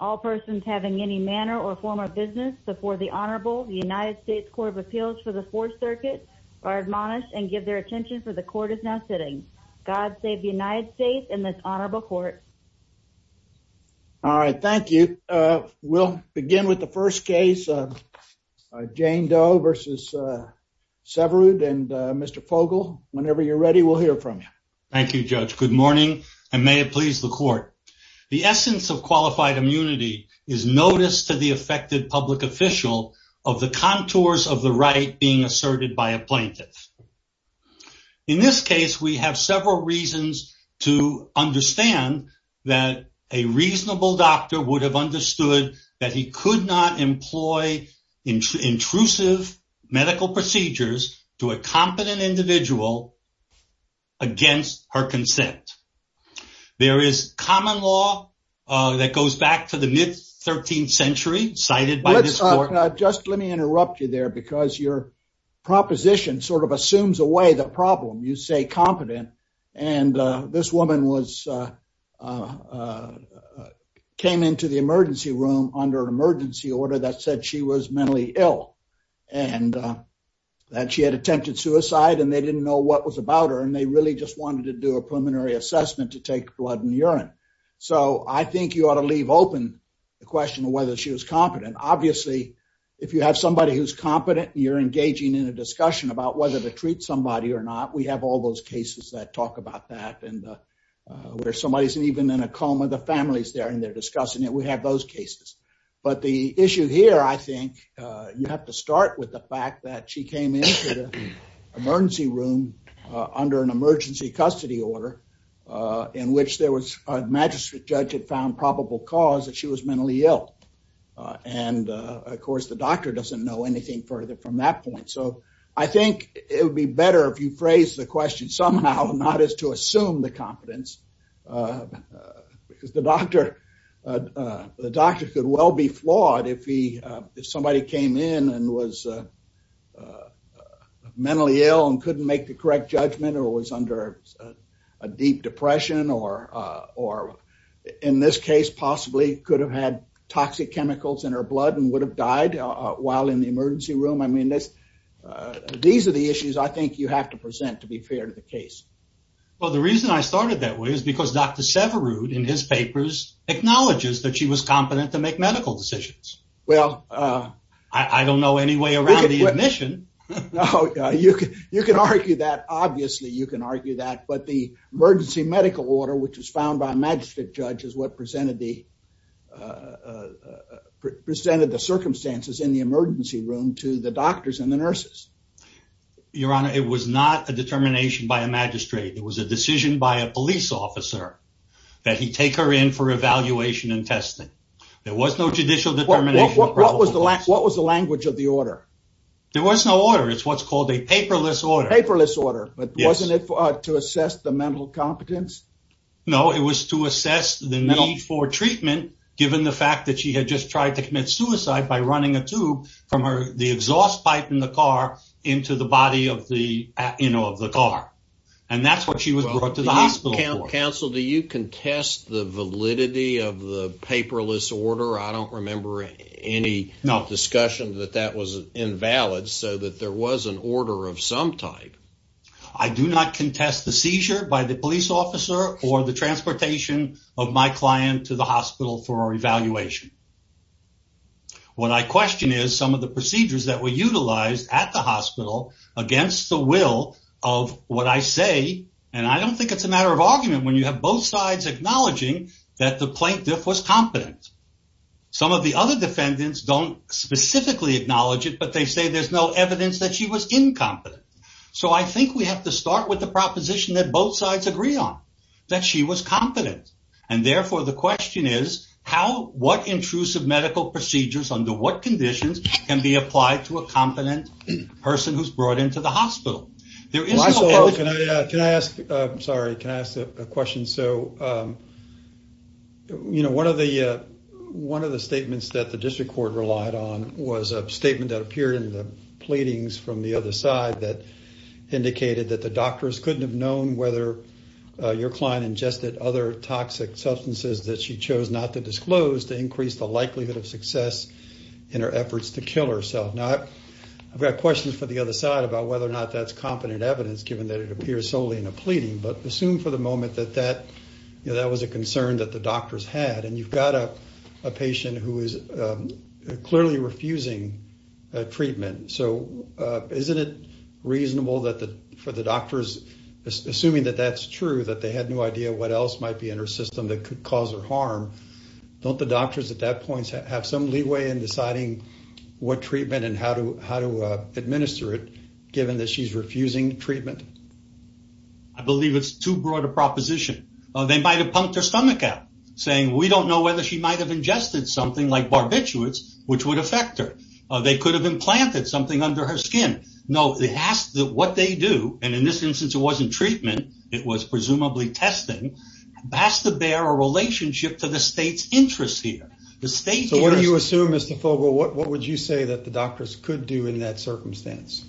All persons having any manner or form of business before the Honorable United States Court of Appeals for the Fourth Circuit are admonished and give their attention for the court is now sitting. God save the United States and this Honorable Court. All right, thank you. We'll begin with the first case, Jane Doe v. Syverud and Mr. Fogel, whenever you're ready we'll hear from you. Thank you, Judge. Good morning and may it please the court. The essence of qualified immunity is notice to the affected public official of the contours of the right being asserted by a plaintiff. In this case we have several reasons to understand that a reasonable doctor would have understood that he could not employ intrusive medical procedures to a competent individual against her consent. There is common law that goes back to the mid 13th century cited by this court. Just let me interrupt you there because your proposition sort of assumes away the problem. You say competent and this woman was came into the emergency room under an emergency order that said she was about her and they really just wanted to do a preliminary assessment to take blood and urine. So I think you ought to leave open the question of whether she was competent. Obviously, if you have somebody who's competent, you're engaging in a discussion about whether to treat somebody or not. We have all those cases that talk about that and where somebody isn't even in a coma, the family's there and they're discussing it. We have those cases. But the issue here I think you have to start with the fact that she came into the emergency room under an emergency custody order in which there was a magistrate judge had found probable cause that she was mentally ill. And of course, the doctor doesn't know anything further from that point. So I think it would be better if you phrase the question somehow not as to assume the competence because the doctor, the doctor could well be flawed if he if somebody came in and was uh mentally ill and couldn't make the correct judgment or was under a deep depression or or in this case possibly could have had toxic chemicals in her blood and would have died while in the emergency room. I mean, that's uh these are the issues I think you have to present to be fair to the case. Well, the reason I started that way is because Dr. Severud in his papers acknowledges that she was competent to make medical decisions. Well, uh I don't know any way around the admission. No, you can, you can argue that. Obviously you can argue that. But the emergency medical order which was found by a magistrate judge is what presented the uh presented the circumstances in the emergency room to the doctors and the nurses. Your honor, it was not a determination by a magistrate. It was a decision by a police officer that he take her in for evaluation and testing. There was no judicial determination. What was the, what was the language of the order? There was no order. It's what's called a paperless order. Paperless order. But wasn't it to assess the mental competence? No, it was to assess the need for treatment given the fact that she had just tried to commit suicide by running a tube from her, the exhaust pipe in the car into the body of the, you know, of the car. And that's what she was brought to the hospital. Counsel, do you contest the validity of the paperless order? I don't remember any discussion that that was invalid so that there was an order of some type. I do not contest the seizure by the police officer or the transportation of my client to the hospital for evaluation. What I question is some of the procedures that were utilized at the hospital against the will of what I say. And I don't think it's a matter of was competent. Some of the other defendants don't specifically acknowledge it, but they say there's no evidence that she was incompetent. So I think we have to start with the proposition that both sides agree on, that she was competent. And therefore the question is how, what intrusive medical procedures under what conditions can be applied to a competent person who's brought into the hospital? There is no evidence. Can I ask, I'm sorry, can I ask a question? So, um, you know, one of the, uh, one of the statements that the district court relied on was a statement that appeared in the pleadings from the other side that indicated that the doctors couldn't have known whether your client ingested other toxic substances that she chose not to disclose to increase the likelihood of success in her efforts to kill herself. Now I've got questions for the other side about whether or not that's competent evidence given that it that was a concern that the doctors had. And you've got a patient who is clearly refusing treatment. So isn't it reasonable that for the doctors assuming that that's true, that they had no idea what else might be in her system that could cause her harm? Don't the doctors at that point have some leeway in deciding what treatment and how to how to administer it given that she's a proposition or they might've pumped her stomach out saying, we don't know whether she might've ingested something like barbiturates, which would affect her. Uh, they could have implanted something under her skin. No, they asked that what they do. And in this instance it wasn't treatment. It was presumably testing past the bear a relationship to the state's interests here. The state. So what do you assume Mr. Fogle? What would you say that the doctors could do in that circumstance?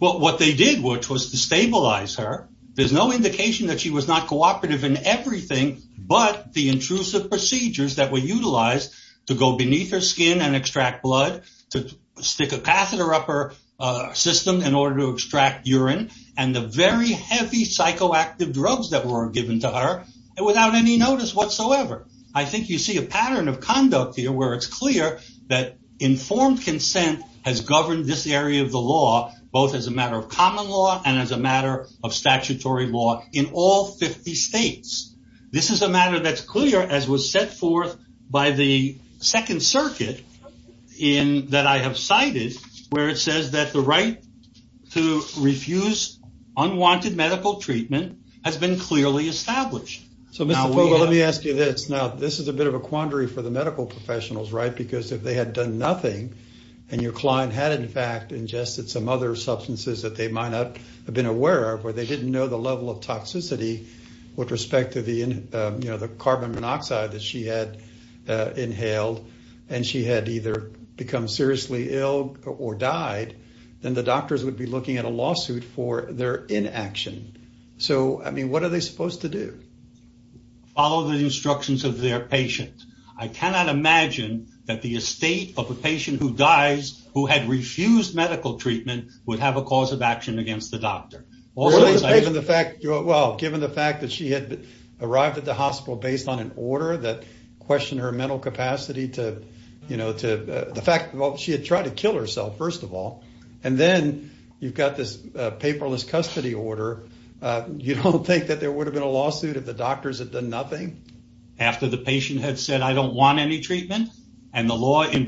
Well, what they did, which was to stabilize her, there's no indication that she was not cooperative in everything, but the intrusive procedures that were utilized to go beneath her skin and extract blood, to stick a catheter up her system in order to extract urine and the very heavy psychoactive drugs that were given to her without any notice whatsoever. I think you see a pattern of conduct here where it's clear that informed consent has governed this area of the law, both as a matter of common law and as a matter of private law in all 50 states. This is a matter that's clear as was set forth by the second circuit in that I have cited where it says that the right to refuse unwanted medical treatment has been clearly established. So Mr. Fogle, let me ask you this. Now this is a bit of a quandary for the medical professionals, right? Because if they had done nothing and your client had in fact ingested some other substances that they might not have been aware of or they didn't know the level of toxicity with respect to the carbon monoxide that she had inhaled and she had either become seriously ill or died, then the doctors would be looking at a lawsuit for their inaction. So I mean, what are they supposed to do? Follow the instructions of their patient. I cannot imagine that the estate of a patient who dies who had refused medical treatment would have a cause of negligence on the part of the doctor. Well, given the fact that she had arrived at the hospital based on an order that questioned her mental capacity to, you know, the fact that she had tried to kill herself, first of all, and then you've got this paperless custody order, you don't think that there would have been a lawsuit if the doctors had done nothing? After the patient had said, I don't want any treatment. And the law in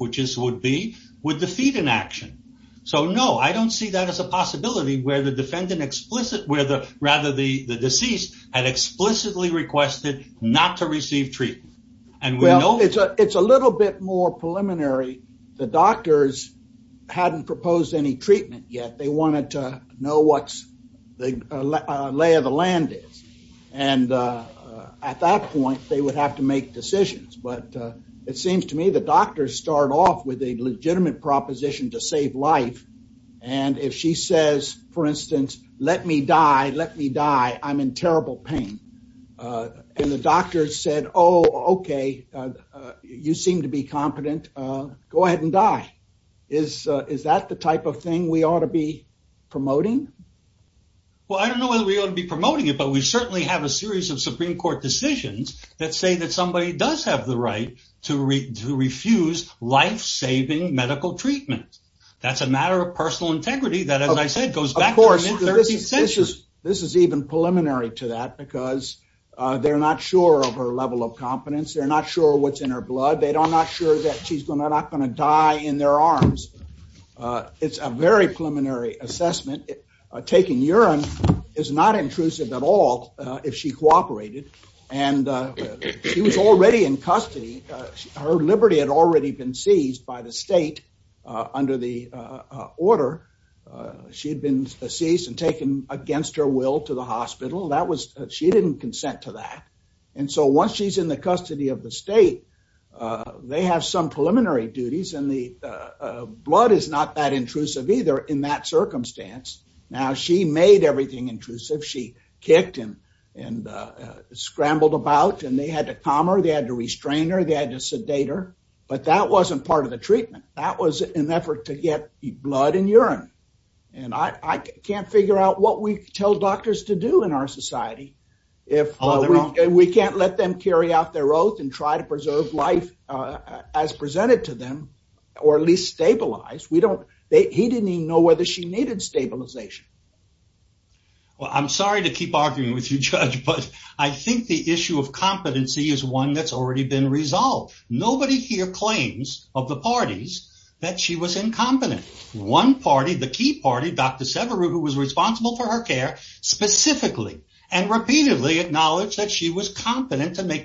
which this would be, would defeat inaction. So no, I don't see that as a possibility where the defendant explicit, where the rather the deceased had explicitly requested not to receive treatment. And well, it's a, it's a little bit more preliminary. The doctors hadn't proposed any treatment yet. They wanted to know what's the lay of the land is. And at that point they would have to make decisions. But it seems to me the doctors start off with a legitimate proposition to save life. And if she says, for instance, let me die, let me die. I'm in terrible pain. And the doctors said, Oh, okay. You seem to be competent. Go ahead and die. Is, is that the type of thing we ought to be promoting? Well, I don't know whether we ought to be promoting it, but we certainly have a series of Supreme Court decisions that say that somebody does have the right to refuse life saving medical treatment. That's a matter of personal integrity that, as I said, goes back to the mid-thirteenth century. This is even preliminary to that because they're not sure of her level of competence. They're not sure what's in her blood. They don't, not sure that she's not going to die in their arms. It's a very preliminary assessment. Taking urine is not intrusive at all if she cooperated. And she was already in custody. Her liberty had already been seized by the state under the order. She had been seized and taken against her will to the hospital. That was, she didn't consent to that. And so once she's in the custody of the state, they have some preliminary duties and the blood is not that intrusive either in that circumstance. Now, she made everything intrusive. She kicked him and scrambled about and they had to calm her. They had to restrain her. They had to sedate her. But that wasn't part of the treatment. That was an effort to get blood and urine. And I can't figure out what we tell doctors to do in our society. If we can't let them carry out their oath and try to preserve life as we don't, they, he didn't even know whether she needed stabilization. Well, I'm sorry to keep arguing with you judge, but I think the issue of competency is one that's already been resolved. Nobody here claims of the parties that she was incompetent. One party, the key party, Dr. Severu, who was responsible for her care specifically and repeatedly acknowledged that she was incompetent. So, there's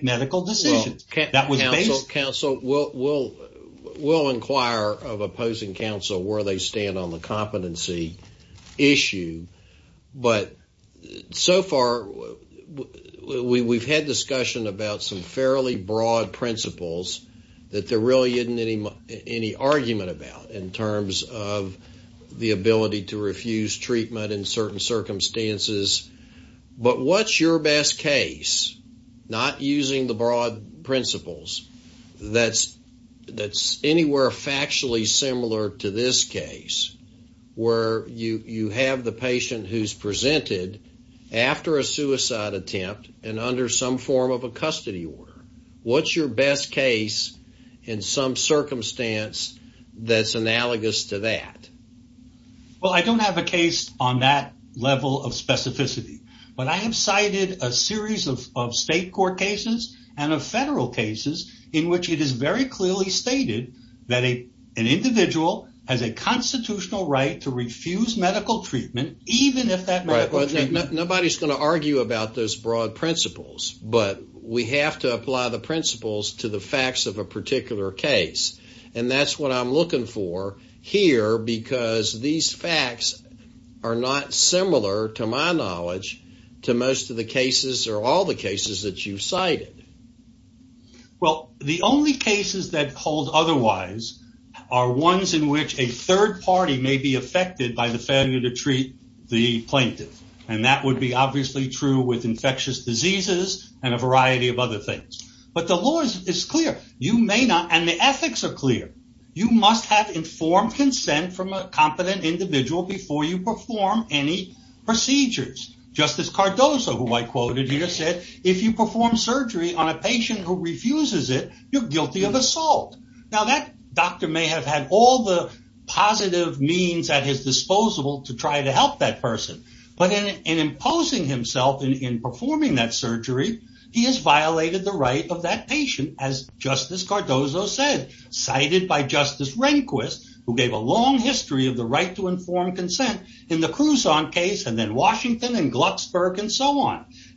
a lot of opposing counsel where they stand on the competency issue. But so far, we've had discussion about some fairly broad principles that there really isn't any argument about in terms of the ability to refuse treatment in certain circumstances. But what's your best case, not using the broad principles, that's anywhere factually similar to this case where you have the patient who's presented after a suicide attempt and under some form of a custody order. What's your best case in some circumstance that's analogous to that? Well, I don't have a case on that level of specificity. But I have cited a number of state court cases and of federal cases in which it is very clearly stated that an individual has a constitutional right to refuse medical treatment even if that medical treatment... Nobody's going to argue about those broad principles, but we have to apply the principles to the facts of a particular case. And that's what I'm looking for here because these facts are not similar, to my knowledge, to most of the cases or all the cases that you've cited. Well, the only cases that hold otherwise are ones in which a third party may be affected by the failure to treat the plaintiff. And that would be obviously true with infectious diseases and a variety of other things. But the law is clear. You may not, and the ethics are clear. You must have informed consent from a competent individual before you perform any procedures. Justice Cardoso, who I quoted here, said, if you perform surgery on a patient who refuses it, you're guilty of assault. Now, that doctor may have had all the positive means at his disposal to try to help that person. But in imposing himself in performing that surgery, he has violated the right of that patient, as Justice Cardoso said, cited by Justice Rehnquist, who gave a long history of the right to treatment.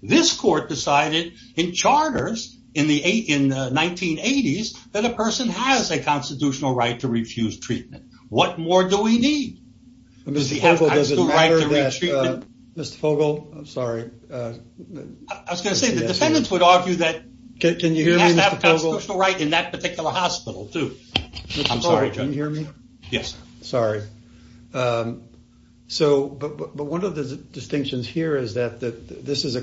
This court decided in charters in the 1980s that a person has a constitutional right to refuse treatment. What more do we need? Mr. Fogel, does it matter that Mr. Fogel, I'm sorry. I was going to say, the defendants would argue that he has to have a constitutional right in that particular hospital, too. I'm sorry, Judge. Mr. Fogel, can you hear me? Yes. Sorry. But one of the distinctions here is that this is,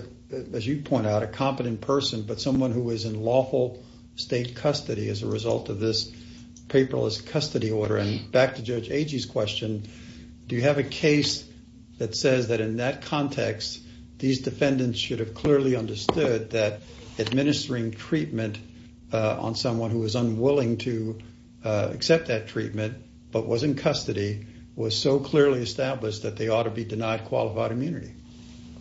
as you point out, a competent person, but someone who is in lawful state custody as a result of this paperless custody order. And back to Judge Agee's question, do you have a case that says that in that context, these defendants should have clearly understood that administering treatment on someone who was unwilling to accept that in custody was so clearly established that they ought to be denied qualified immunity?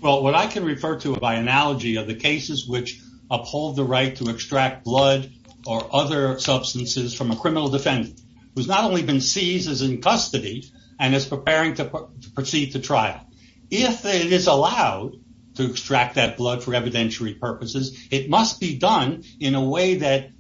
Well, what I can refer to by analogy are the cases which uphold the right to extract blood or other substances from a criminal defendant who's not only been seized as in custody and is preparing to proceed to trial. If it is allowed to extract that blood for evidentiary purposes, it must be done in a way that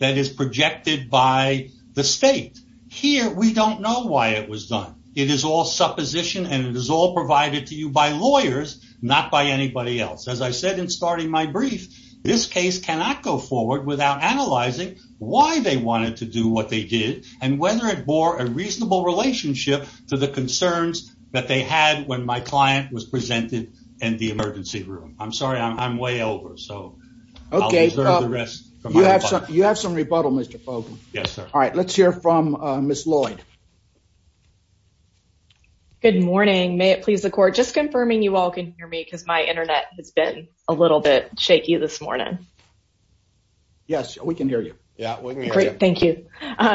is projected by the state. Here, we don't know why it was done. It is all supposition and it is all provided to you by lawyers, not by anybody else. As I said in starting my brief, this case cannot go forward without analyzing why they wanted to do what they did and whether it bore a reasonable relationship to the concerns that they had when my client was presented in the emergency room. I'm sorry, I'm way over, so I'll reserve the rest for my rebuttal. You have some rebuttal, Mr. Fogel. Yes, sir. All right, let's hear from Ms. Lloyd. Good morning. May it please the court, just confirming you all can hear me because my internet has been a little bit shaky this morning. Yes, we can hear you. Yeah, we can hear you. Great, thank you.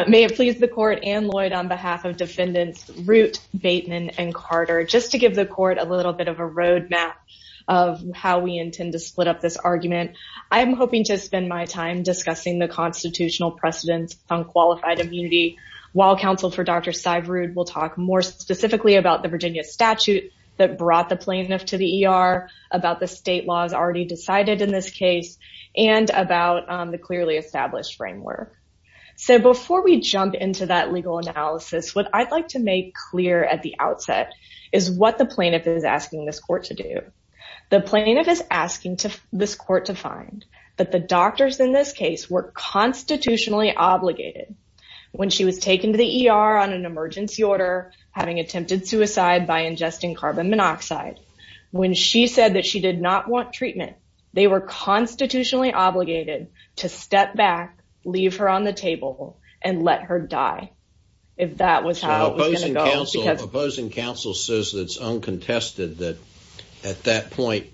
May it please the court and Lloyd on behalf of defendants Root, Bateman, and Carter, just to give the court a little bit of a roadmap of how we intend to split up this argument. I'm hoping to spend my time discussing the constitutional precedents on qualified immunity, while counsel for Dr. Syverud will talk more specifically about the Virginia statute that brought the plaintiff to the ER, about the state laws already decided in this case, and about the clearly established framework. So before we jump into that legal analysis, what I'd like to make clear at the outset is what the plaintiff is asking this court to do. The plaintiff is asking this court to find that the doctors in this case were constitutionally obligated when she was taken to the ER on an emergency order, having attempted suicide by ingesting carbon monoxide, when she said that she did not want treatment, they were constitutionally obligated to step back, leave her on the table, and let her die, if that was how it was going to go. Opposing counsel says that it's uncontested that at that point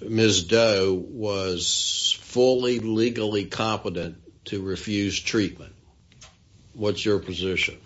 Ms. Doe was fully legally competent to refuse treatment. What's your position?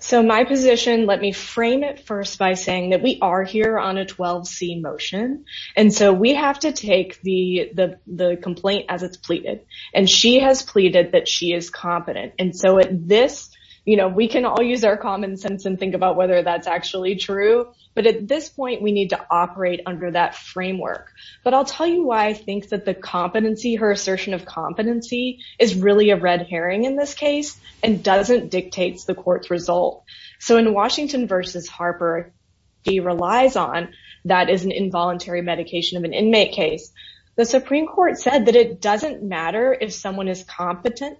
So my position, let me frame it first by saying that we are here on a 12C motion, and so we have to take the complaint as it's pleaded, and she has pleaded that she is competent, and so at this, we can all use our common sense and think about whether that's actually true, but at this point, we need to operate under that framework. But I'll tell you why I think that the competency, her assertion of competency, is really a red herring in this case, and doesn't dictate the court's result. So in Washington versus Harper, he relies on, that is an involuntary medication of an inmate case. The Supreme Court said that it doesn't matter if someone is competent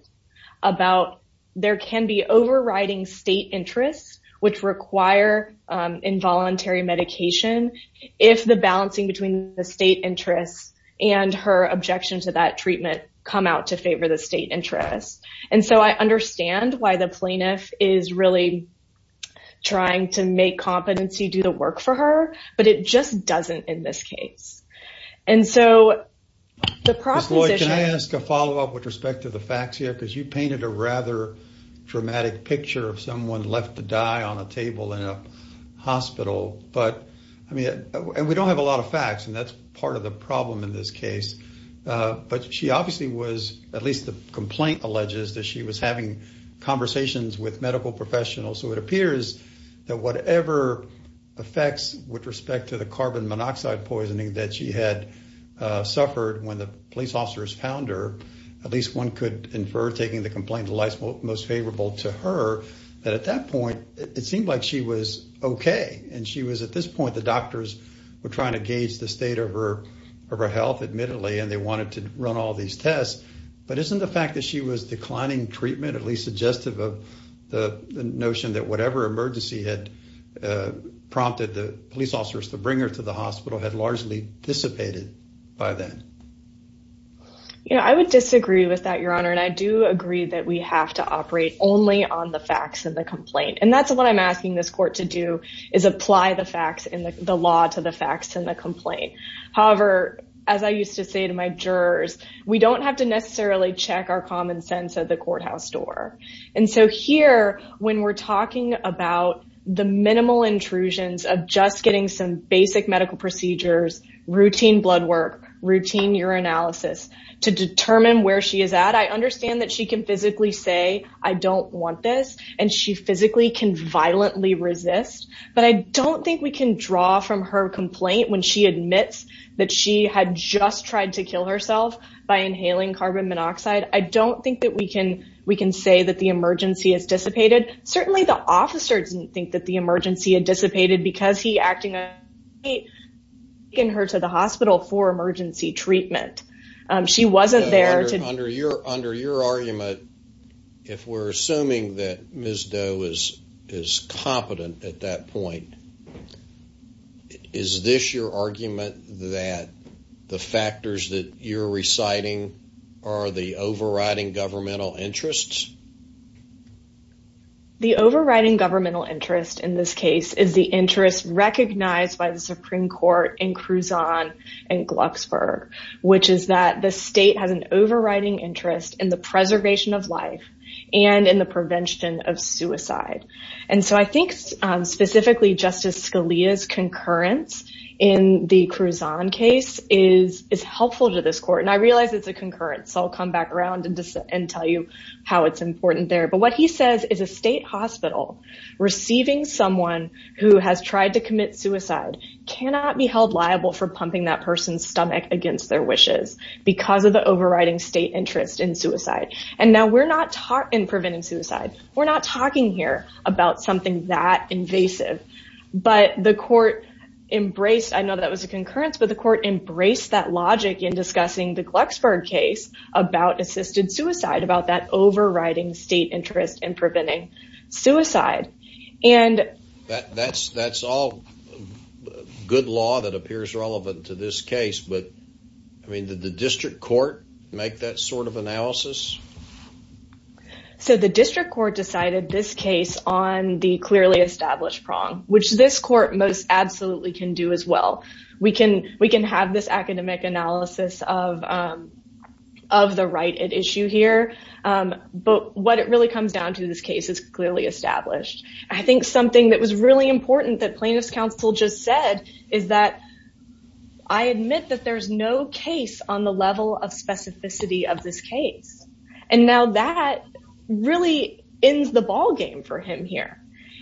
about, there can be overriding state interests, which require involuntary medication, if the balancing between the state interests and her objection to that treatment come out to favor the state interest. And so I understand why the plaintiff is really trying to make competency do the work for her, but it just doesn't in this case. And so the proposition- Ms. Lloyd, can I ask a follow-up with respect to the facts here? Because you painted a rather dramatic picture of someone left to die on a table in a hospital, but I mean, and we don't have a lot of facts, and that's part of the problem in this case, but she obviously was, at least the complaint alleges, that she was having conversations with medical professionals. So it appears that whatever effects with respect to the carbon monoxide poisoning that she had suffered when the police officers found her, at least one could infer, taking the complaint the life's most favorable to her, that at that point, it seemed like she was okay. And she was, at this point, the doctors were trying to gauge the state of her health, admittedly, and they wanted to run all these tests. But isn't the fact that she was declining treatment at least suggestive of the notion that whatever emergency had prompted the police officers to bring her to the hospital had largely dissipated by then? Yeah, I would disagree with that, Your Honor, and I do agree that we have to operate only on the facts of the complaint. And that's what I'm asking this court to do, is apply the facts and the law to the facts in the complaint. However, as I used to say to my jurors, we don't have to necessarily check our common sense at the courthouse door. And so here, when we're talking about the minimal intrusions of just getting some basic medical procedures, routine blood work, routine urinalysis, to determine where she is at, I understand that she can physically say, I don't want this, and she physically can violently resist. But I don't think we can draw from her complaint when she admits that she had just tried to kill herself by inhaling carbon monoxide. I don't think that we can say that the emergency has dissipated. Certainly, the officer didn't think that the emergency had dissipated because he acted... In her to the hospital for emergency treatment. She wasn't there to... Under your argument, if we're assuming that Ms. Doe is competent at that point, is this your argument that the factors that you're reciting are the overriding governmental interests? The overriding governmental interest in this case is the interest recognized by the Supreme Court in Cruzon and Glucksburg, which is that the state has an overriding interest in the preservation of life and in the prevention of suicide. And so I think specifically, Justice Scalia's concurrence in the Cruzon case is helpful to this court. And I realize it's a concurrence, so I'll come back around and tell you how it's important there. But what he says is a state hospital receiving someone who has tried to commit suicide cannot be held liable for pumping that person's stomach against their wishes because of the overriding state interest in suicide. And now we're not taught in preventing suicide. We're not talking here about something that invasive. But the court embraced... I know that was a concurrence, but the court embraced that logic in the Glucksburg case about assisted suicide, about that overriding state interest in preventing suicide. And... That's all good law that appears relevant to this case, but did the district court make that sort of analysis? So the district court decided this case on the clearly established prong, which this court most absolutely can do as well. We can have this of the right at issue here, but what it really comes down to, this case is clearly established. I think something that was really important that plaintiff's counsel just said is that I admit that there's no case on the level of specificity of this case. And now that really ends the ballgame for him here.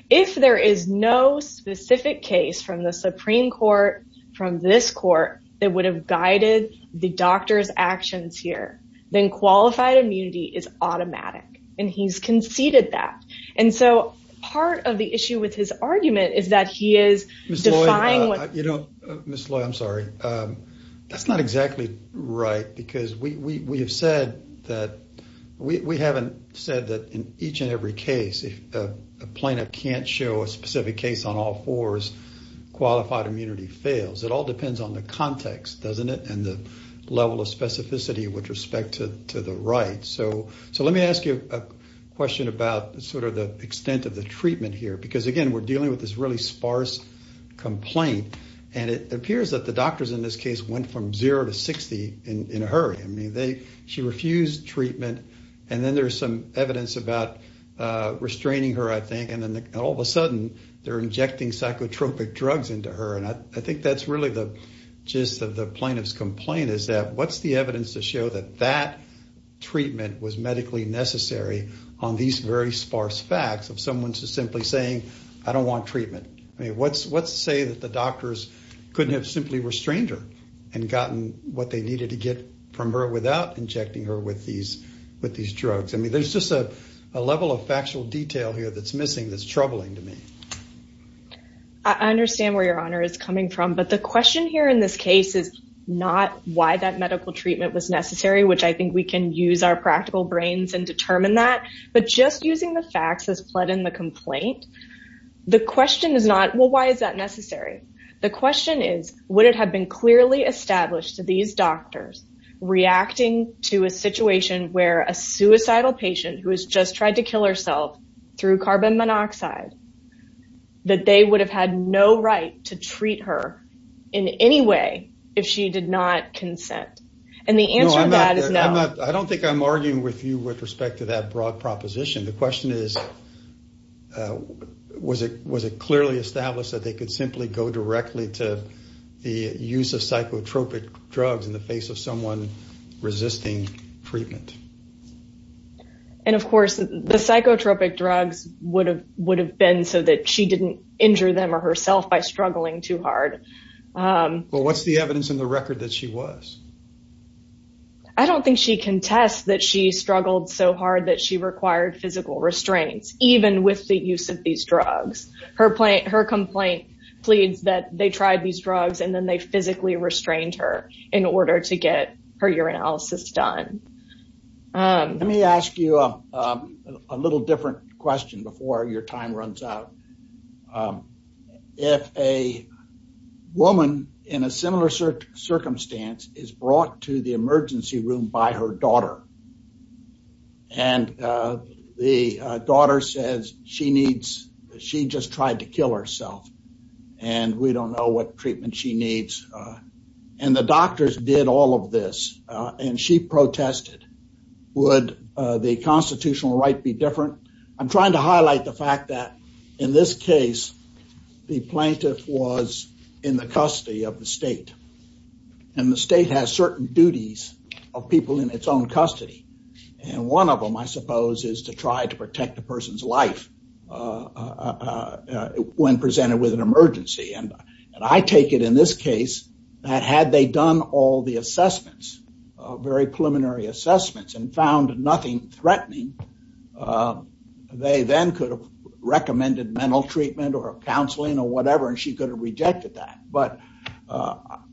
If there is no specific case from the Supreme Court that would have guided the doctor's actions here, then qualified immunity is automatic, and he's conceded that. And so part of the issue with his argument is that he is defying what... Ms. Lloyd, I'm sorry. That's not exactly right because we have said that... We haven't said that in each and every case, if a plaintiff can't show a specific case on all fours, qualified immunity fails. It all depends on the context, doesn't it? And the level of specificity with respect to the right. So let me ask you a question about the extent of the treatment here. Because again, we're dealing with this really sparse complaint, and it appears that the doctors in this case went from 0 to 60 in a hurry. She refused treatment, and then there's some evidence about restraining her, I think, and then all of a sudden, they're injecting psychotropic drugs into her. And I think that's really the gist of the plaintiff's complaint, is that what's the evidence to show that that treatment was medically necessary on these very sparse facts of someone just simply saying, I don't want treatment? What's to say that the doctors couldn't have simply restrained her and gotten what they needed to get from her without injecting her with these drugs? I mean, there's just a level of factual detail here that's missing that's troubling to me. I understand where your honor is coming from. But the question here in this case is not why that medical treatment was necessary, which I think we can use our practical brains and determine that. But just using the facts as pled in the complaint, the question is not, well, why is that necessary? The question is, would it have been clearly established to these doctors reacting to a situation where a suicidal patient who has just tried to kill herself through carbon monoxide, that they would have had no right to treat her in any way if she did not consent? And the answer to that is no. I don't think I'm arguing with you with respect to that broad proposition. The question is, was it clearly established that they could simply go directly to the use of psychotropic drugs in the face of someone resisting treatment? And of course, the psychotropic drugs would have would have been so that she didn't injure them or herself by struggling too hard. Well, what's the evidence in the record that she was? I don't think she can test that she struggled so hard that she required physical restraints, even with the use of these drugs. Her complaint pleads that they tried these drugs and then they physically restrained her in order to get her urinalysis done. Let me ask you a little different question before your time runs out. If a woman in a similar circumstance is brought to the emergency room by her daughter. And the daughter says she needs she just tried to kill herself and we and the doctors did all of this and she protested, would the constitutional right be different? I'm trying to highlight the fact that in this case, the plaintiff was in the custody of the state and the state has certain duties of people in its own custody. And one of them, I suppose, is to try to protect the person's life when presented with an emergency. And I take it in this case that had they done all the assessments, very preliminary assessments and found nothing threatening, they then could have recommended mental treatment or counseling or whatever, and she could have rejected that. But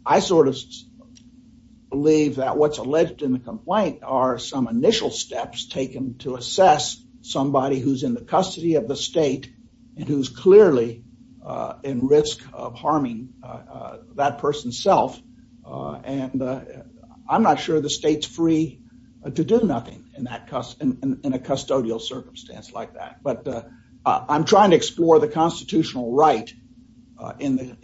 I sort of believe that what's alleged in the complaint are some initial steps taken to assess somebody who's in the custody of the state and who's clearly in risk of harming that person's self. And I'm not sure the state's free to do nothing in that in a custodial circumstance like that. But I'm trying to explore the constitutional right in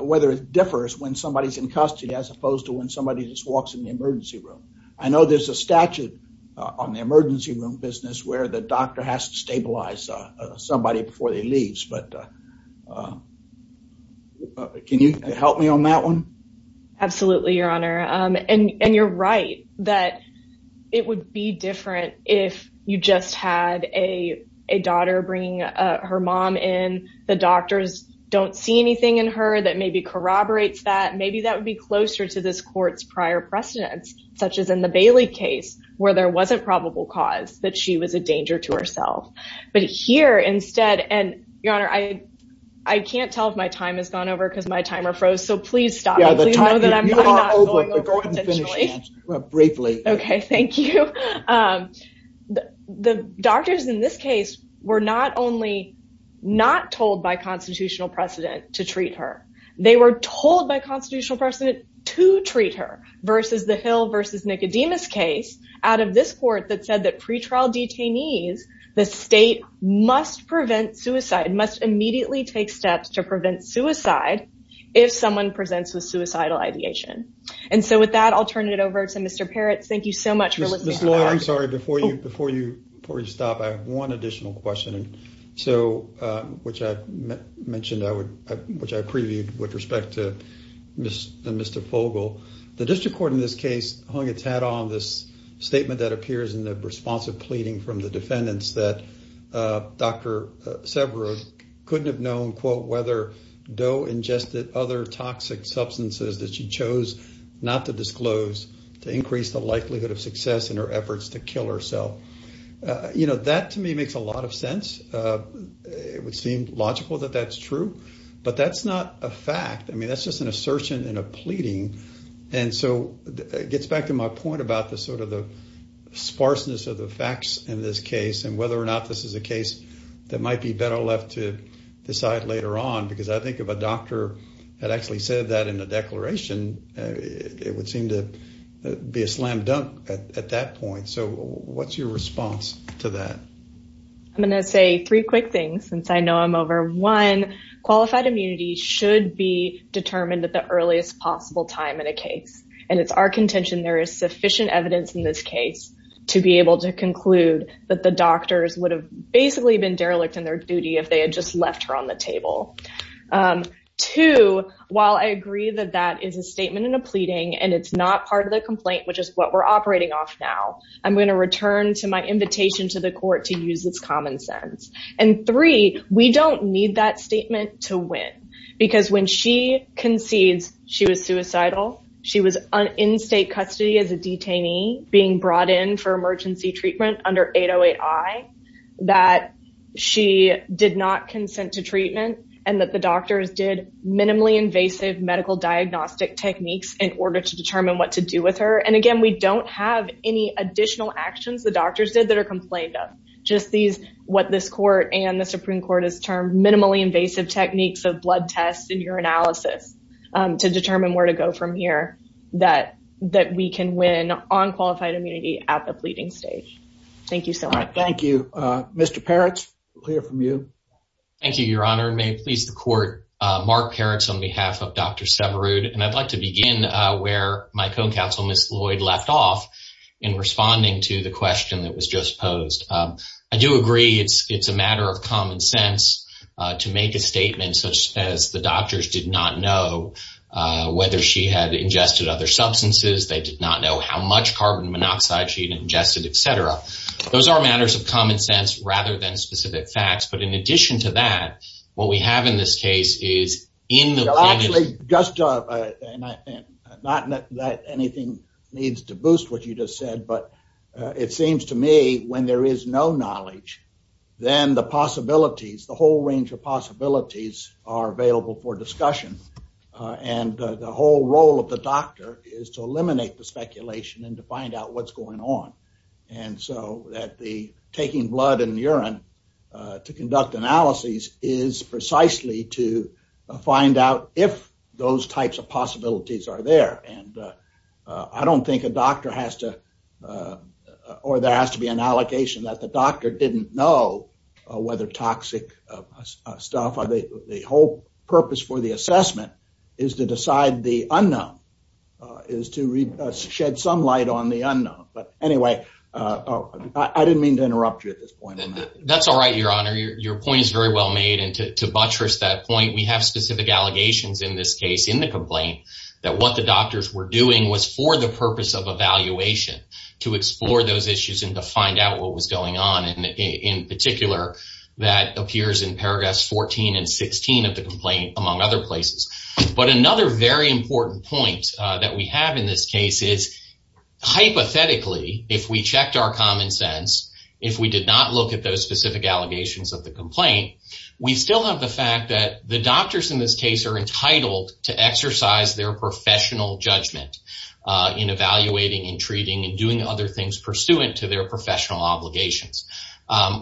whether it differs when somebody's in custody as opposed to when somebody just walks in the emergency room. I know there's a statute on the emergency room business where the doctor has to stabilize somebody before they leaves. But can you help me on that one? Absolutely, Your Honor. And you're right that it would be different if you just had a daughter bringing her mom in, the doctors don't see anything in her that maybe corroborates that. Maybe that would be closer to this court's prior precedents, such as in the Bailey case, where there wasn't probable cause that she was a danger to herself. But here instead, and Your Honor, I, I can't tell if my time has gone over because my timer froze. So please stop. Briefly. Okay, thank you. The doctors in this case, were not only not told by constitutional precedent to treat her, they were told by constitutional precedent to treat her versus the Hill versus Nicodemus case out of this court that said that pretrial detainees, the state must prevent suicide, must immediately take steps to prevent suicide, if someone presents with suicidal ideation. And so with that, I'll turn it over to Mr. Peretz. Thank you so much for listening. I'm sorry, before you before you stop, I have one additional question. So, which I mentioned, I would, which I previewed with respect to Mr. Fogle, the district court in this case hung its hat on this statement that appears in the responsive pleading from the defendants that Dr. Severod couldn't have known quote, whether Doe ingested other toxic substances that she chose not to disclose to increase the likelihood of success in her efforts to kill herself. You know, that to me makes a lot of sense. It would seem logical that that's true, but that's not a fact. I mean, that's just an assertion in a pleading. And so it gets back to my point about the sort of the sparseness of the facts in this case and whether or not this is a case that might be better left to decide later on. Because I think if a doctor had actually said that in the declaration, it would seem to be a slam dunk at that point. So what's your response to that? I'm going to say three quick things since I know I'm over. One, qualified immunity should be determined at the earliest possible time in a case. And it's our contention there is sufficient evidence in this case to be able to conclude that the doctors would have basically been derelict in their duty if they had just left her on the table. Two, while I agree that that is a statement in a pleading and it's not part of the complaint, which is what we're operating off now, I'm going to return to my invitation to the court to use this common sense. And three, we don't need that statement to win. Because when she concedes she was suicidal, she was in state custody as a detainee being brought in for emergency treatment under 808-I, that she did not consent to treatment, and that the doctors did minimally invasive medical diagnostic techniques in order to determine what to do with her. And again, we don't have any additional actions the doctors did that are complained of, just these, what this court and the Supreme Court has termed minimally invasive techniques of blood tests and urinalysis to determine where to go from here, that we can win on qualified immunity at the pleading stage. Thank you so much. Thank you. Mr. Peretz, we'll hear from you. Thank you, Your Honor. And may it please the court, Mark Peretz on behalf of Dr. Severud. And I'd like to begin where my co-counsel, Ms. Lloyd, left off in responding to the question that was just posed. I do agree, it's a matter of common sense to make a statement such as the doctors did not know whether she had ingested other substances, they did not know how much carbon monoxide she ingested, etc. Those are matters of common sense rather than specific facts. But in addition to that, what we have in this case is in the- Just, not that anything needs to boost what you just said, but it seems to me when there is no knowledge, then the possibilities, the whole range of possibilities are available for discussion. And the whole role of the doctor is to eliminate the speculation and to find out what's going on. And so that the taking blood and urine to conduct analyses is precisely to find out if those types of possibilities are there. And I don't think a doctor has to, or there has to be an allegation that the doctor didn't know whether toxic stuff, the whole purpose for the assessment is to decide the unknown, is to shed some light on the unknown. But anyway, I didn't mean to interrupt you at this point. That's all right, Your Honor, your point is very well made. And to buttress that point, we have specific allegations in this case, in the complaint, that what the doctors were doing was for the purpose of evaluation, to explore those issues and to find out what was going on. And in particular, that appears in paragraphs 14 and 16 of the complaint, among other places. But another very important point that we have in this case is, hypothetically, if we checked our common sense, if we did not look at those specific allegations of the doctors in this case are entitled to exercise their professional judgment in evaluating and treating and doing other things pursuant to their professional obligations.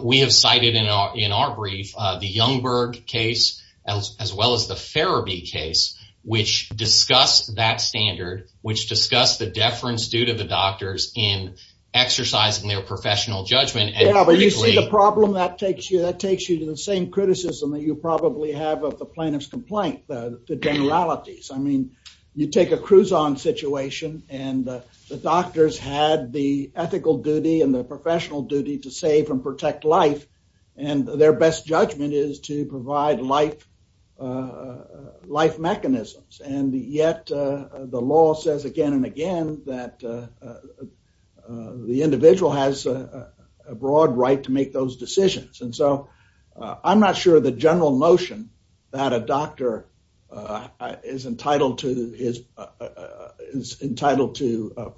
We have cited in our brief, the Youngberg case, as well as the Farrabee case, which discussed that standard, which discussed the deference due to the doctors in exercising their professional judgment. Yeah, but you see the problem that takes you, that takes you to the same with the plaintiff's complaint, the generalities. I mean, you take a cruise-on situation, and the doctors had the ethical duty and the professional duty to save and protect life, and their best judgment is to provide life mechanisms. And yet, the law says again and again that the individual has a broad right to that a doctor is entitled to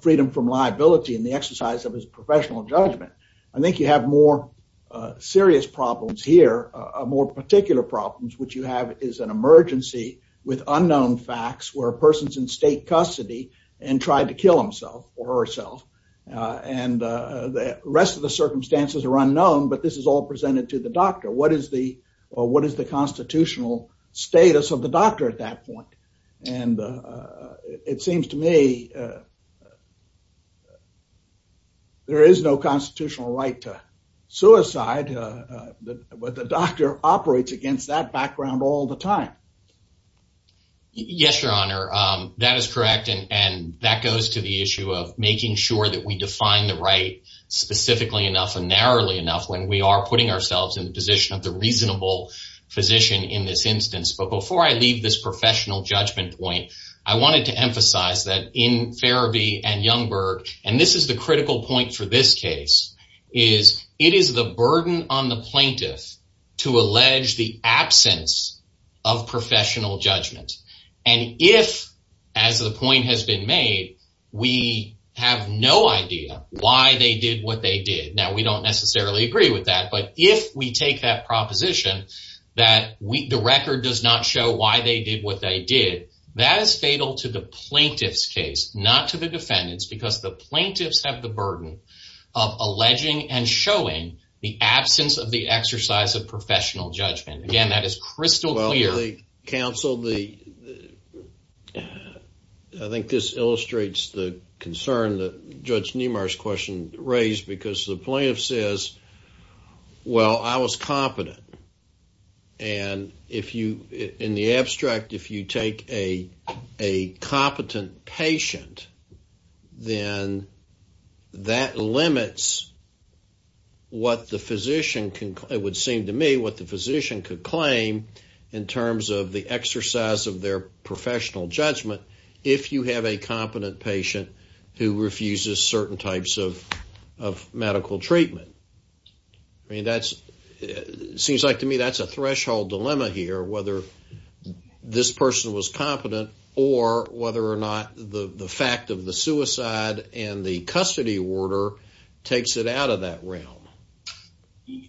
freedom from liability in the exercise of his professional judgment. I think you have more serious problems here, more particular problems, which you have is an emergency with unknown facts where a person's in state custody and tried to kill himself or herself. And the rest of the circumstances are unknown, but this is all presented to the doctor. What is the constitutional status of the doctor at that point? And it seems to me there is no constitutional right to suicide, but the doctor operates against that background all the time. Yes, Your Honor, that is correct. And that goes to the issue of making sure that we define the right specifically enough and narrowly when we are putting ourselves in the position of the reasonable physician in this instance. But before I leave this professional judgment point, I wanted to emphasize that in Ferebee and Youngberg, and this is the critical point for this case, is it is the burden on the plaintiff to allege the absence of professional judgment. And if, as the point has been made, we have no idea why they did what they did. Now, we don't necessarily agree with that. But if we take that proposition that the record does not show why they did what they did, that is fatal to the plaintiff's case, not to the defendants, because the plaintiffs have the burden of alleging and showing the absence of the exercise of professional judgment. Again, that is crystal clear. Counsel, I think this is raised because the plaintiff says, well, I was competent. And if you, in the abstract, if you take a competent patient, then that limits what the physician can, it would seem to me, what the physician could claim in terms of the exercise of their professional judgment if you have a competent patient who of medical treatment. I mean, that's seems like to me that's a threshold dilemma here, whether this person was competent or whether or not the fact of the suicide and the custody order takes it out of that realm.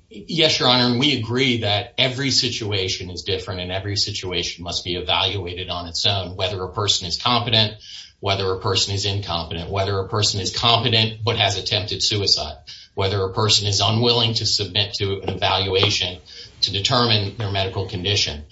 Yes, Your Honor. And we agree that every situation is different and every situation must be evaluated on its own. Whether a person is competent, whether a person is whether a person is unwilling to submit to an evaluation to determine their medical condition,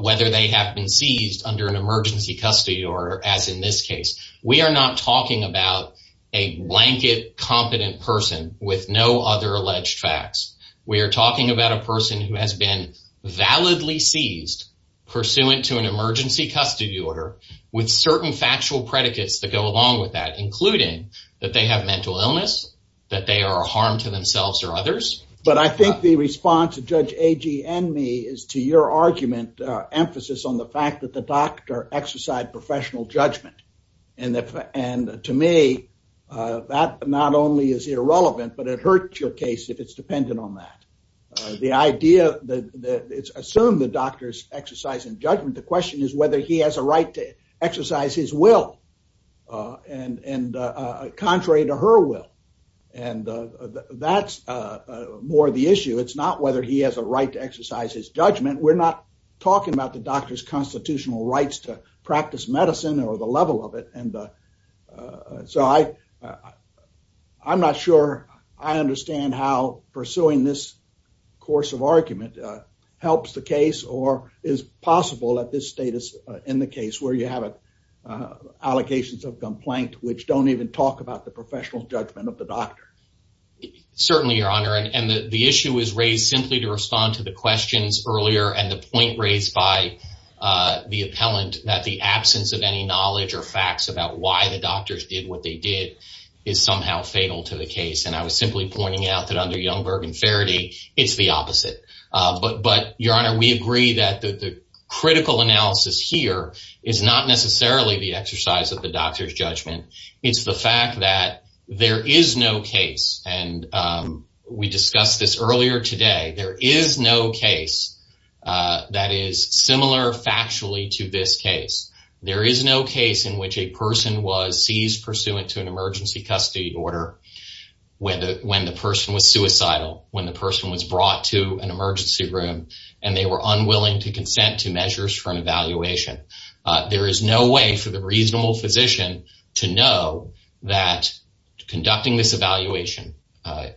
whether they have been seized under an emergency custody order. As in this case, we are not talking about a blanket, competent person with no other alleged facts. We're talking about a person who has been validly seized pursuant to an emergency custody order with certain factual predicates that go along with that, including that they have mental illness, that they are a harm to themselves or others. But I think the response of Judge Agee and me is to your argument, emphasis on the fact that the doctor exercised professional judgment. And to me, that not only is irrelevant, but it hurts your case if it's dependent on that. The idea that it's assumed the doctor's exercising judgment, the question is whether he has a right to her will. And that's more the issue. It's not whether he has a right to exercise his judgment. We're not talking about the doctor's constitutional rights to practice medicine or the level of it. And so I, I'm not sure I understand how pursuing this course of argument helps the case or is possible at this status in the case where you have allocations of complaint, which don't even talk about the professional judgment of the doctor. Certainly, Your Honor. And the issue is raised simply to respond to the questions earlier and the point raised by, uh, the appellant that the absence of any knowledge or facts about why the doctors did what they did is somehow fatal to the case. And I was simply pointing out that under Youngberg and Faraday, it's the opposite. But But, Your Honor, we agree that the critical analysis here is not necessarily the that there is no case. And, um, we discussed this earlier today. There is no case, uh, that is similar factually to this case. There is no case in which a person was seized pursuant to an emergency custody order when the person was suicidal, when the person was brought to an emergency room and they were unwilling to consent to measures for an evaluation. There is no way for the reasonable physician to know that conducting this evaluation, uh,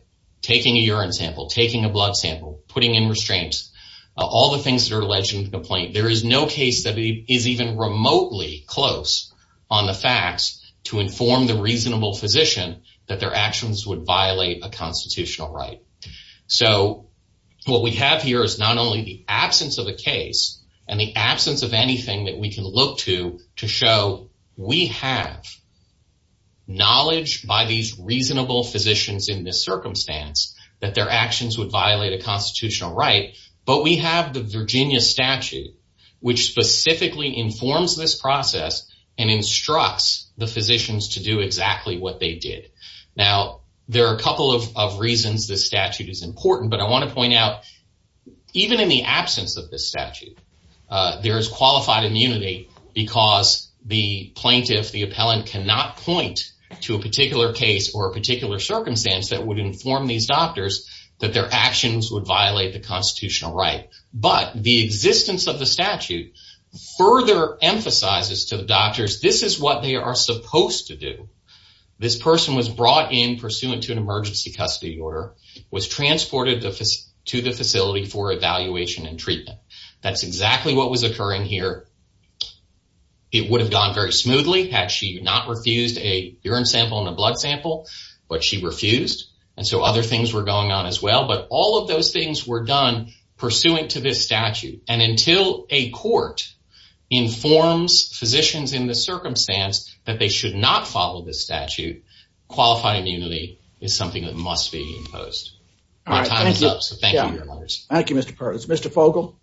taking a urine sample, taking a blood sample, putting in restraints, all the things that are alleged in complaint. There is no case that is even remotely close on the facts to inform the reasonable physician that their actions would violate a constitutional right. So what we have here is not only the absence of the case and the absence of anything that we can look to to show we have knowledge by these reasonable physicians in this circumstance that their actions would violate a constitutional right. But we have the Virginia statute, which specifically informs this process and instructs the physicians to do exactly what they did. Now, there are a couple of reasons. This statute is important, but I want to point out, even in the absence of this statute, there is qualified immunity because the plaintiff, the appellant, cannot point to a particular case or a particular circumstance that would inform these doctors that their actions would violate the constitutional right. But the existence of the statute further emphasizes to the doctors this is what they are supposed to do. This person was brought in pursuant to an emergency custody order, was transported to the facility for evaluation and that's exactly what was occurring here. It would have gone very smoothly had she not refused a urine sample in the blood sample, but she refused. And so other things were going on as well. But all of those things were done pursuant to this statute. And until a court informs physicians in the circumstance that they should not follow this statute, qualified immunity is something that must be imposed. Our time is up. Thank you, Mr. Perkins. Mr. Fogel?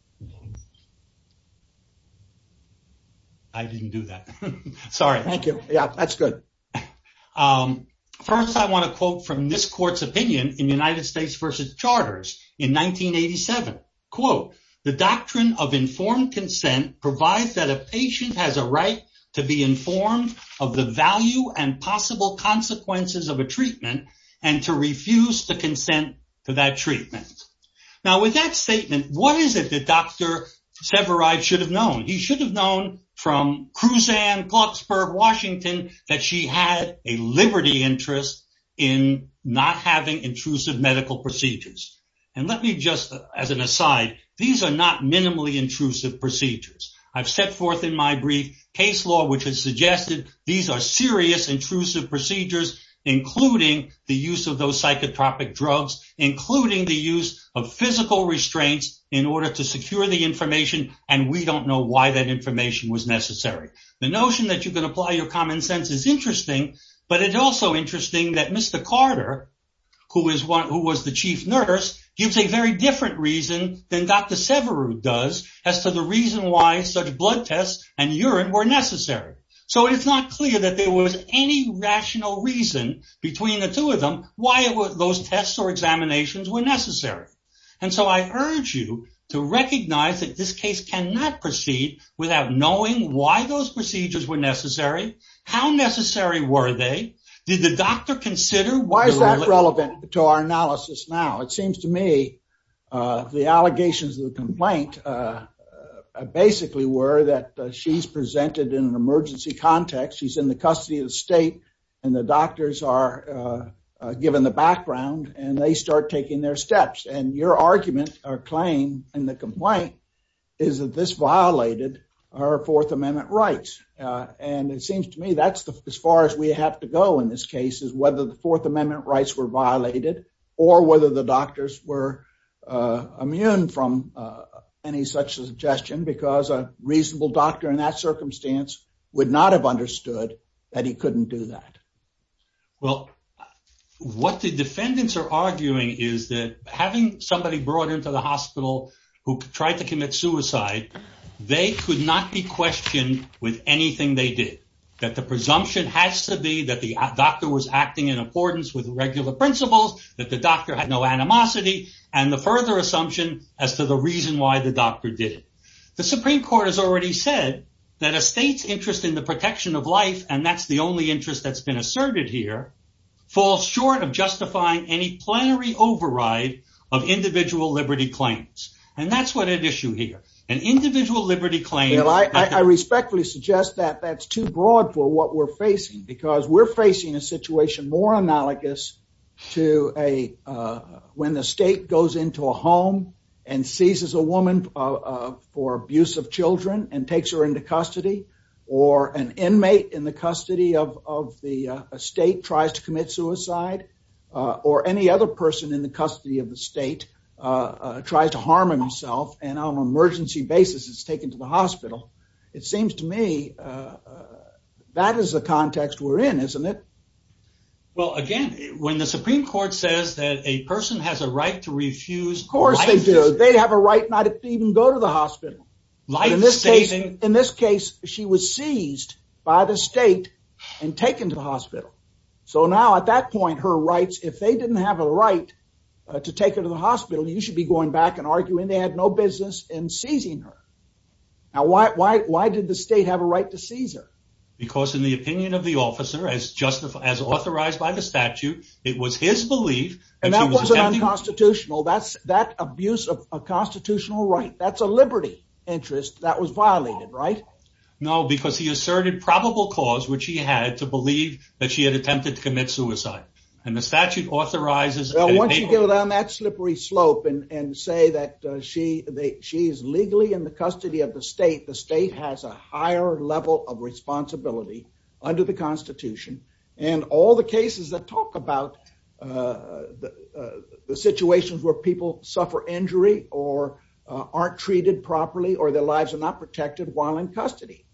I didn't do that. Sorry. Thank you. Yeah, that's good. First, I want to quote from this court's opinion in United States versus charters in 1987. Quote, The doctrine of informed consent provides that a patient has a right to be informed of the value and possible consequences of a treatment and to refuse to consent to that treatment. Now, with that statement, what is it that Dr. Severide should have known? He should have known from Kruzan, Clarksburg, Washington, that she had a liberty interest in not having intrusive medical procedures. And let me just, as an aside, these are not minimally intrusive procedures. I've set forth in my brief case law, which has suggested these are serious intrusive procedures, including the use of those psychotropic drugs, including the use of physical restraints in order to secure the information. And we don't know why that information was necessary. The notion that you can apply your common sense is interesting, but it's also interesting that Mr. Carter, who was the chief nurse, gives a very different reason than Dr. Severide does as to the reason why such blood tests and urine were necessary. So it's not clear that there was any rational reason between the two of them why those tests or examinations were necessary. And so I urge you to recognize that this case cannot proceed without knowing why those procedures were necessary, how necessary were they, did the doctor consider... Why is that relevant to our analysis now? It seems to me the allegations of the complaint basically were that she's presented in an emergency context, she's in the custody of the state, and the doctors are given the background and they start taking their steps. And your argument or claim in the complaint is that this violated our Fourth Amendment rights. And it seems to me that's as far as we have to go in this case is whether the Fourth Amendment rights were violated or whether the doctors were immune from any such suggestion because a reasonable doctor in that circumstance would not have understood that he couldn't do that. Well, what the defendants are arguing is that having somebody brought into the hospital who tried to commit suicide, they could not be questioned with anything they did. That the presumption has to be that the doctor was acting in accordance with regular principles, that the doctor had no animosity, and the further assumption as to the reason why the doctor did it. The Supreme Court has already said that a state's interest in the protection of life, and that's the only interest that's been asserted here, falls short of justifying any plenary override of individual liberty claims. And that's what an issue here, an individual liberty claim. And I respectfully suggest that that's too broad for what we're facing, because we're facing a situation more analogous to a when the state goes into a home and seizes a woman for abuse of children and takes her into custody, or an inmate in the custody of the state tries to commit suicide, or any other person in the custody of the state tries to harm himself and on an emergency basis is taken to the hospital. It seems to me that is the context we're in, isn't it? Well, again, when the Supreme Court says that a person has a right to refuse, of course they do, they have a right not to even go to the hospital. In this case, in this case, she was seized by the state and taken to the hospital. So now at that point, her rights, if they didn't have a right to take her to the hospital, you should be going back and arguing they had no business in seizing her. Now, why did the state have a right to seize her? Because in the opinion of the officer, as justified, as authorized by the statute, it was his belief. And that wasn't unconstitutional. That's that abuse of a constitutional right. That's a liberty interest that was violated, right? No, because he asserted probable cause, which he had to believe that she had attempted to commit suicide. And the statute authorizes... Well, once you get on that slippery slope and say that she is legally in the responsibility under the Constitution and all the cases that talk about the situations where people suffer injury or aren't treated properly or their lives are not protected while in custody.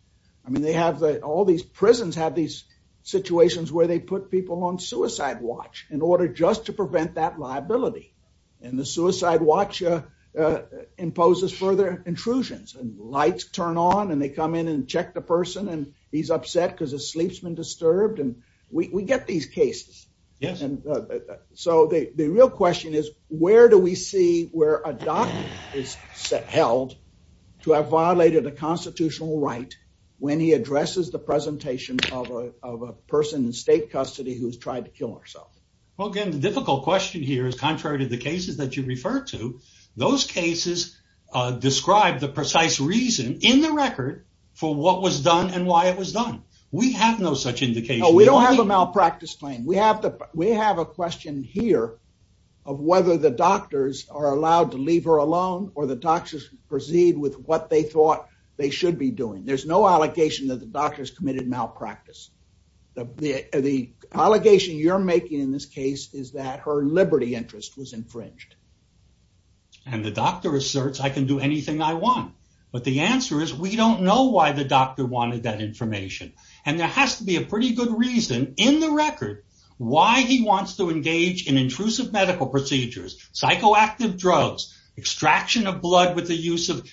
I mean, they have all these prisons have these situations where they put people on suicide watch in order just to prevent that liability. And the suicide watch imposes further intrusions and lights turn on and they come in and check the person and he's upset because his sleep's been disturbed. And we get these cases. Yes. And so the real question is, where do we see where a doc is held to have violated a constitutional right when he addresses the presentation of a person in state custody who's tried to kill herself? Well, again, the difficult question here is contrary to the cases that you refer to, those cases describe the precise reason in the record for what was done and why it was done. We have no such indication. No, we don't have a malpractice claim. We have a question here of whether the doctors are allowed to leave her alone or the doctors proceed with what they thought they should be doing. There's no allegation that the doctors committed malpractice. The allegation you're making in this case is that her liberty interest was infringed. And the doctor asserts, I can do anything I want. But the answer is, we don't know why the doctor wanted that information. And there has to be a pretty good reason in the record why he wants to engage in intrusive medical procedures, psychoactive drugs, extraction of blood with the use of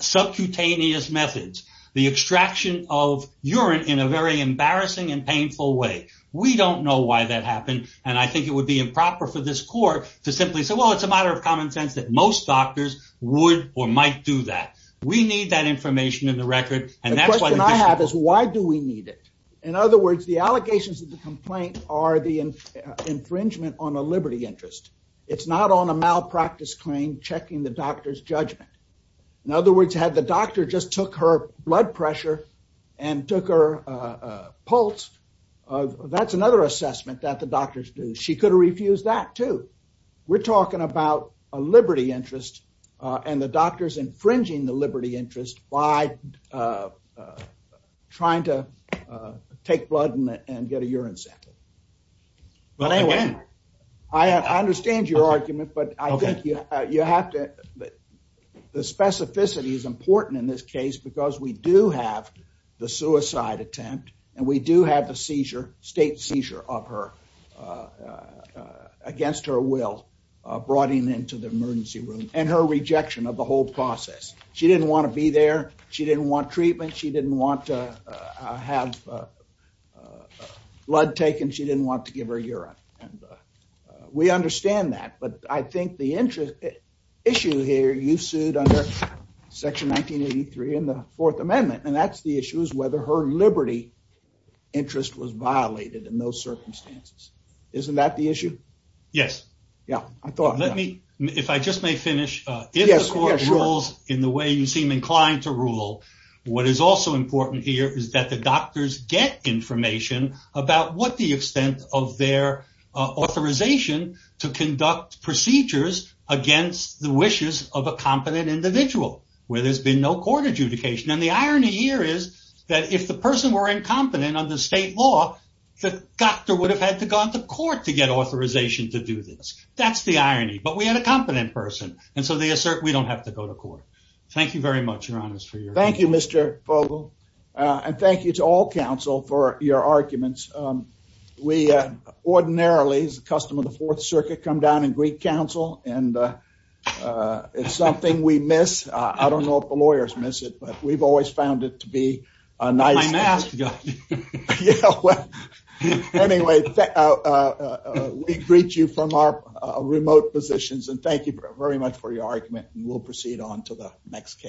subcutaneous methods, the extraction of urine in a very embarrassing and painful way. We don't know why that happened. And I think it would be improper for this court to simply say, well, it's a matter of common sense that most doctors would or might do that. We need that information in the record. And that's what I have is why do we need it? In other words, the allegations of the complaint are the infringement on a liberty interest. It's not on a malpractice claim, checking the doctor's judgment. In other words, had the doctor just took her blood pressure and took her pulse, that's another assessment that the doctors do. She could have refused that, too. We're talking about a liberty interest and the doctor's infringing the liberty interest by trying to take blood and get a urine sample. But anyway, I understand your argument, but I think you have to the specificity is important in this case because we do have the suicide attempt and we do have the seizure state seizure of her against her will, brought him into the emergency room and her rejection of the whole process. She didn't want to be there. She didn't want treatment. She didn't want to have blood taken. She didn't want to give her urine. And we understand that. But I think the interest issue here, you sued under Section 1983 in the Fourth Amendment, and that's the issue is whether her liberty interest was violated in those circumstances. Isn't that the issue? Yes. Yeah, I thought let me if I just may finish. Yes. Rules in the way you seem inclined to rule. What is also important here is that the doctors get information about what the extent of their authorization to conduct procedures against the wishes of a competent individual where there's been no court adjudication. And the irony here is that if the person were incompetent on the state law, the doctor would have had to go to court to get authorization to do this. That's the irony. But we had a competent person. And so they assert we don't have to go to court. Thank you very much, Your Honor, for your. Thank you, Mr. Fogle. And thank you to all counsel for your arguments. We ordinarily, as a customer of the Fourth Circuit, come down and greet counsel. And it's something we miss. I don't know if the lawyers miss it, but we've always found it to be a nice. My mask got me. Yeah, well, anyway, we greet you from our remote positions and thank you very much for your argument. We'll proceed on to the next case.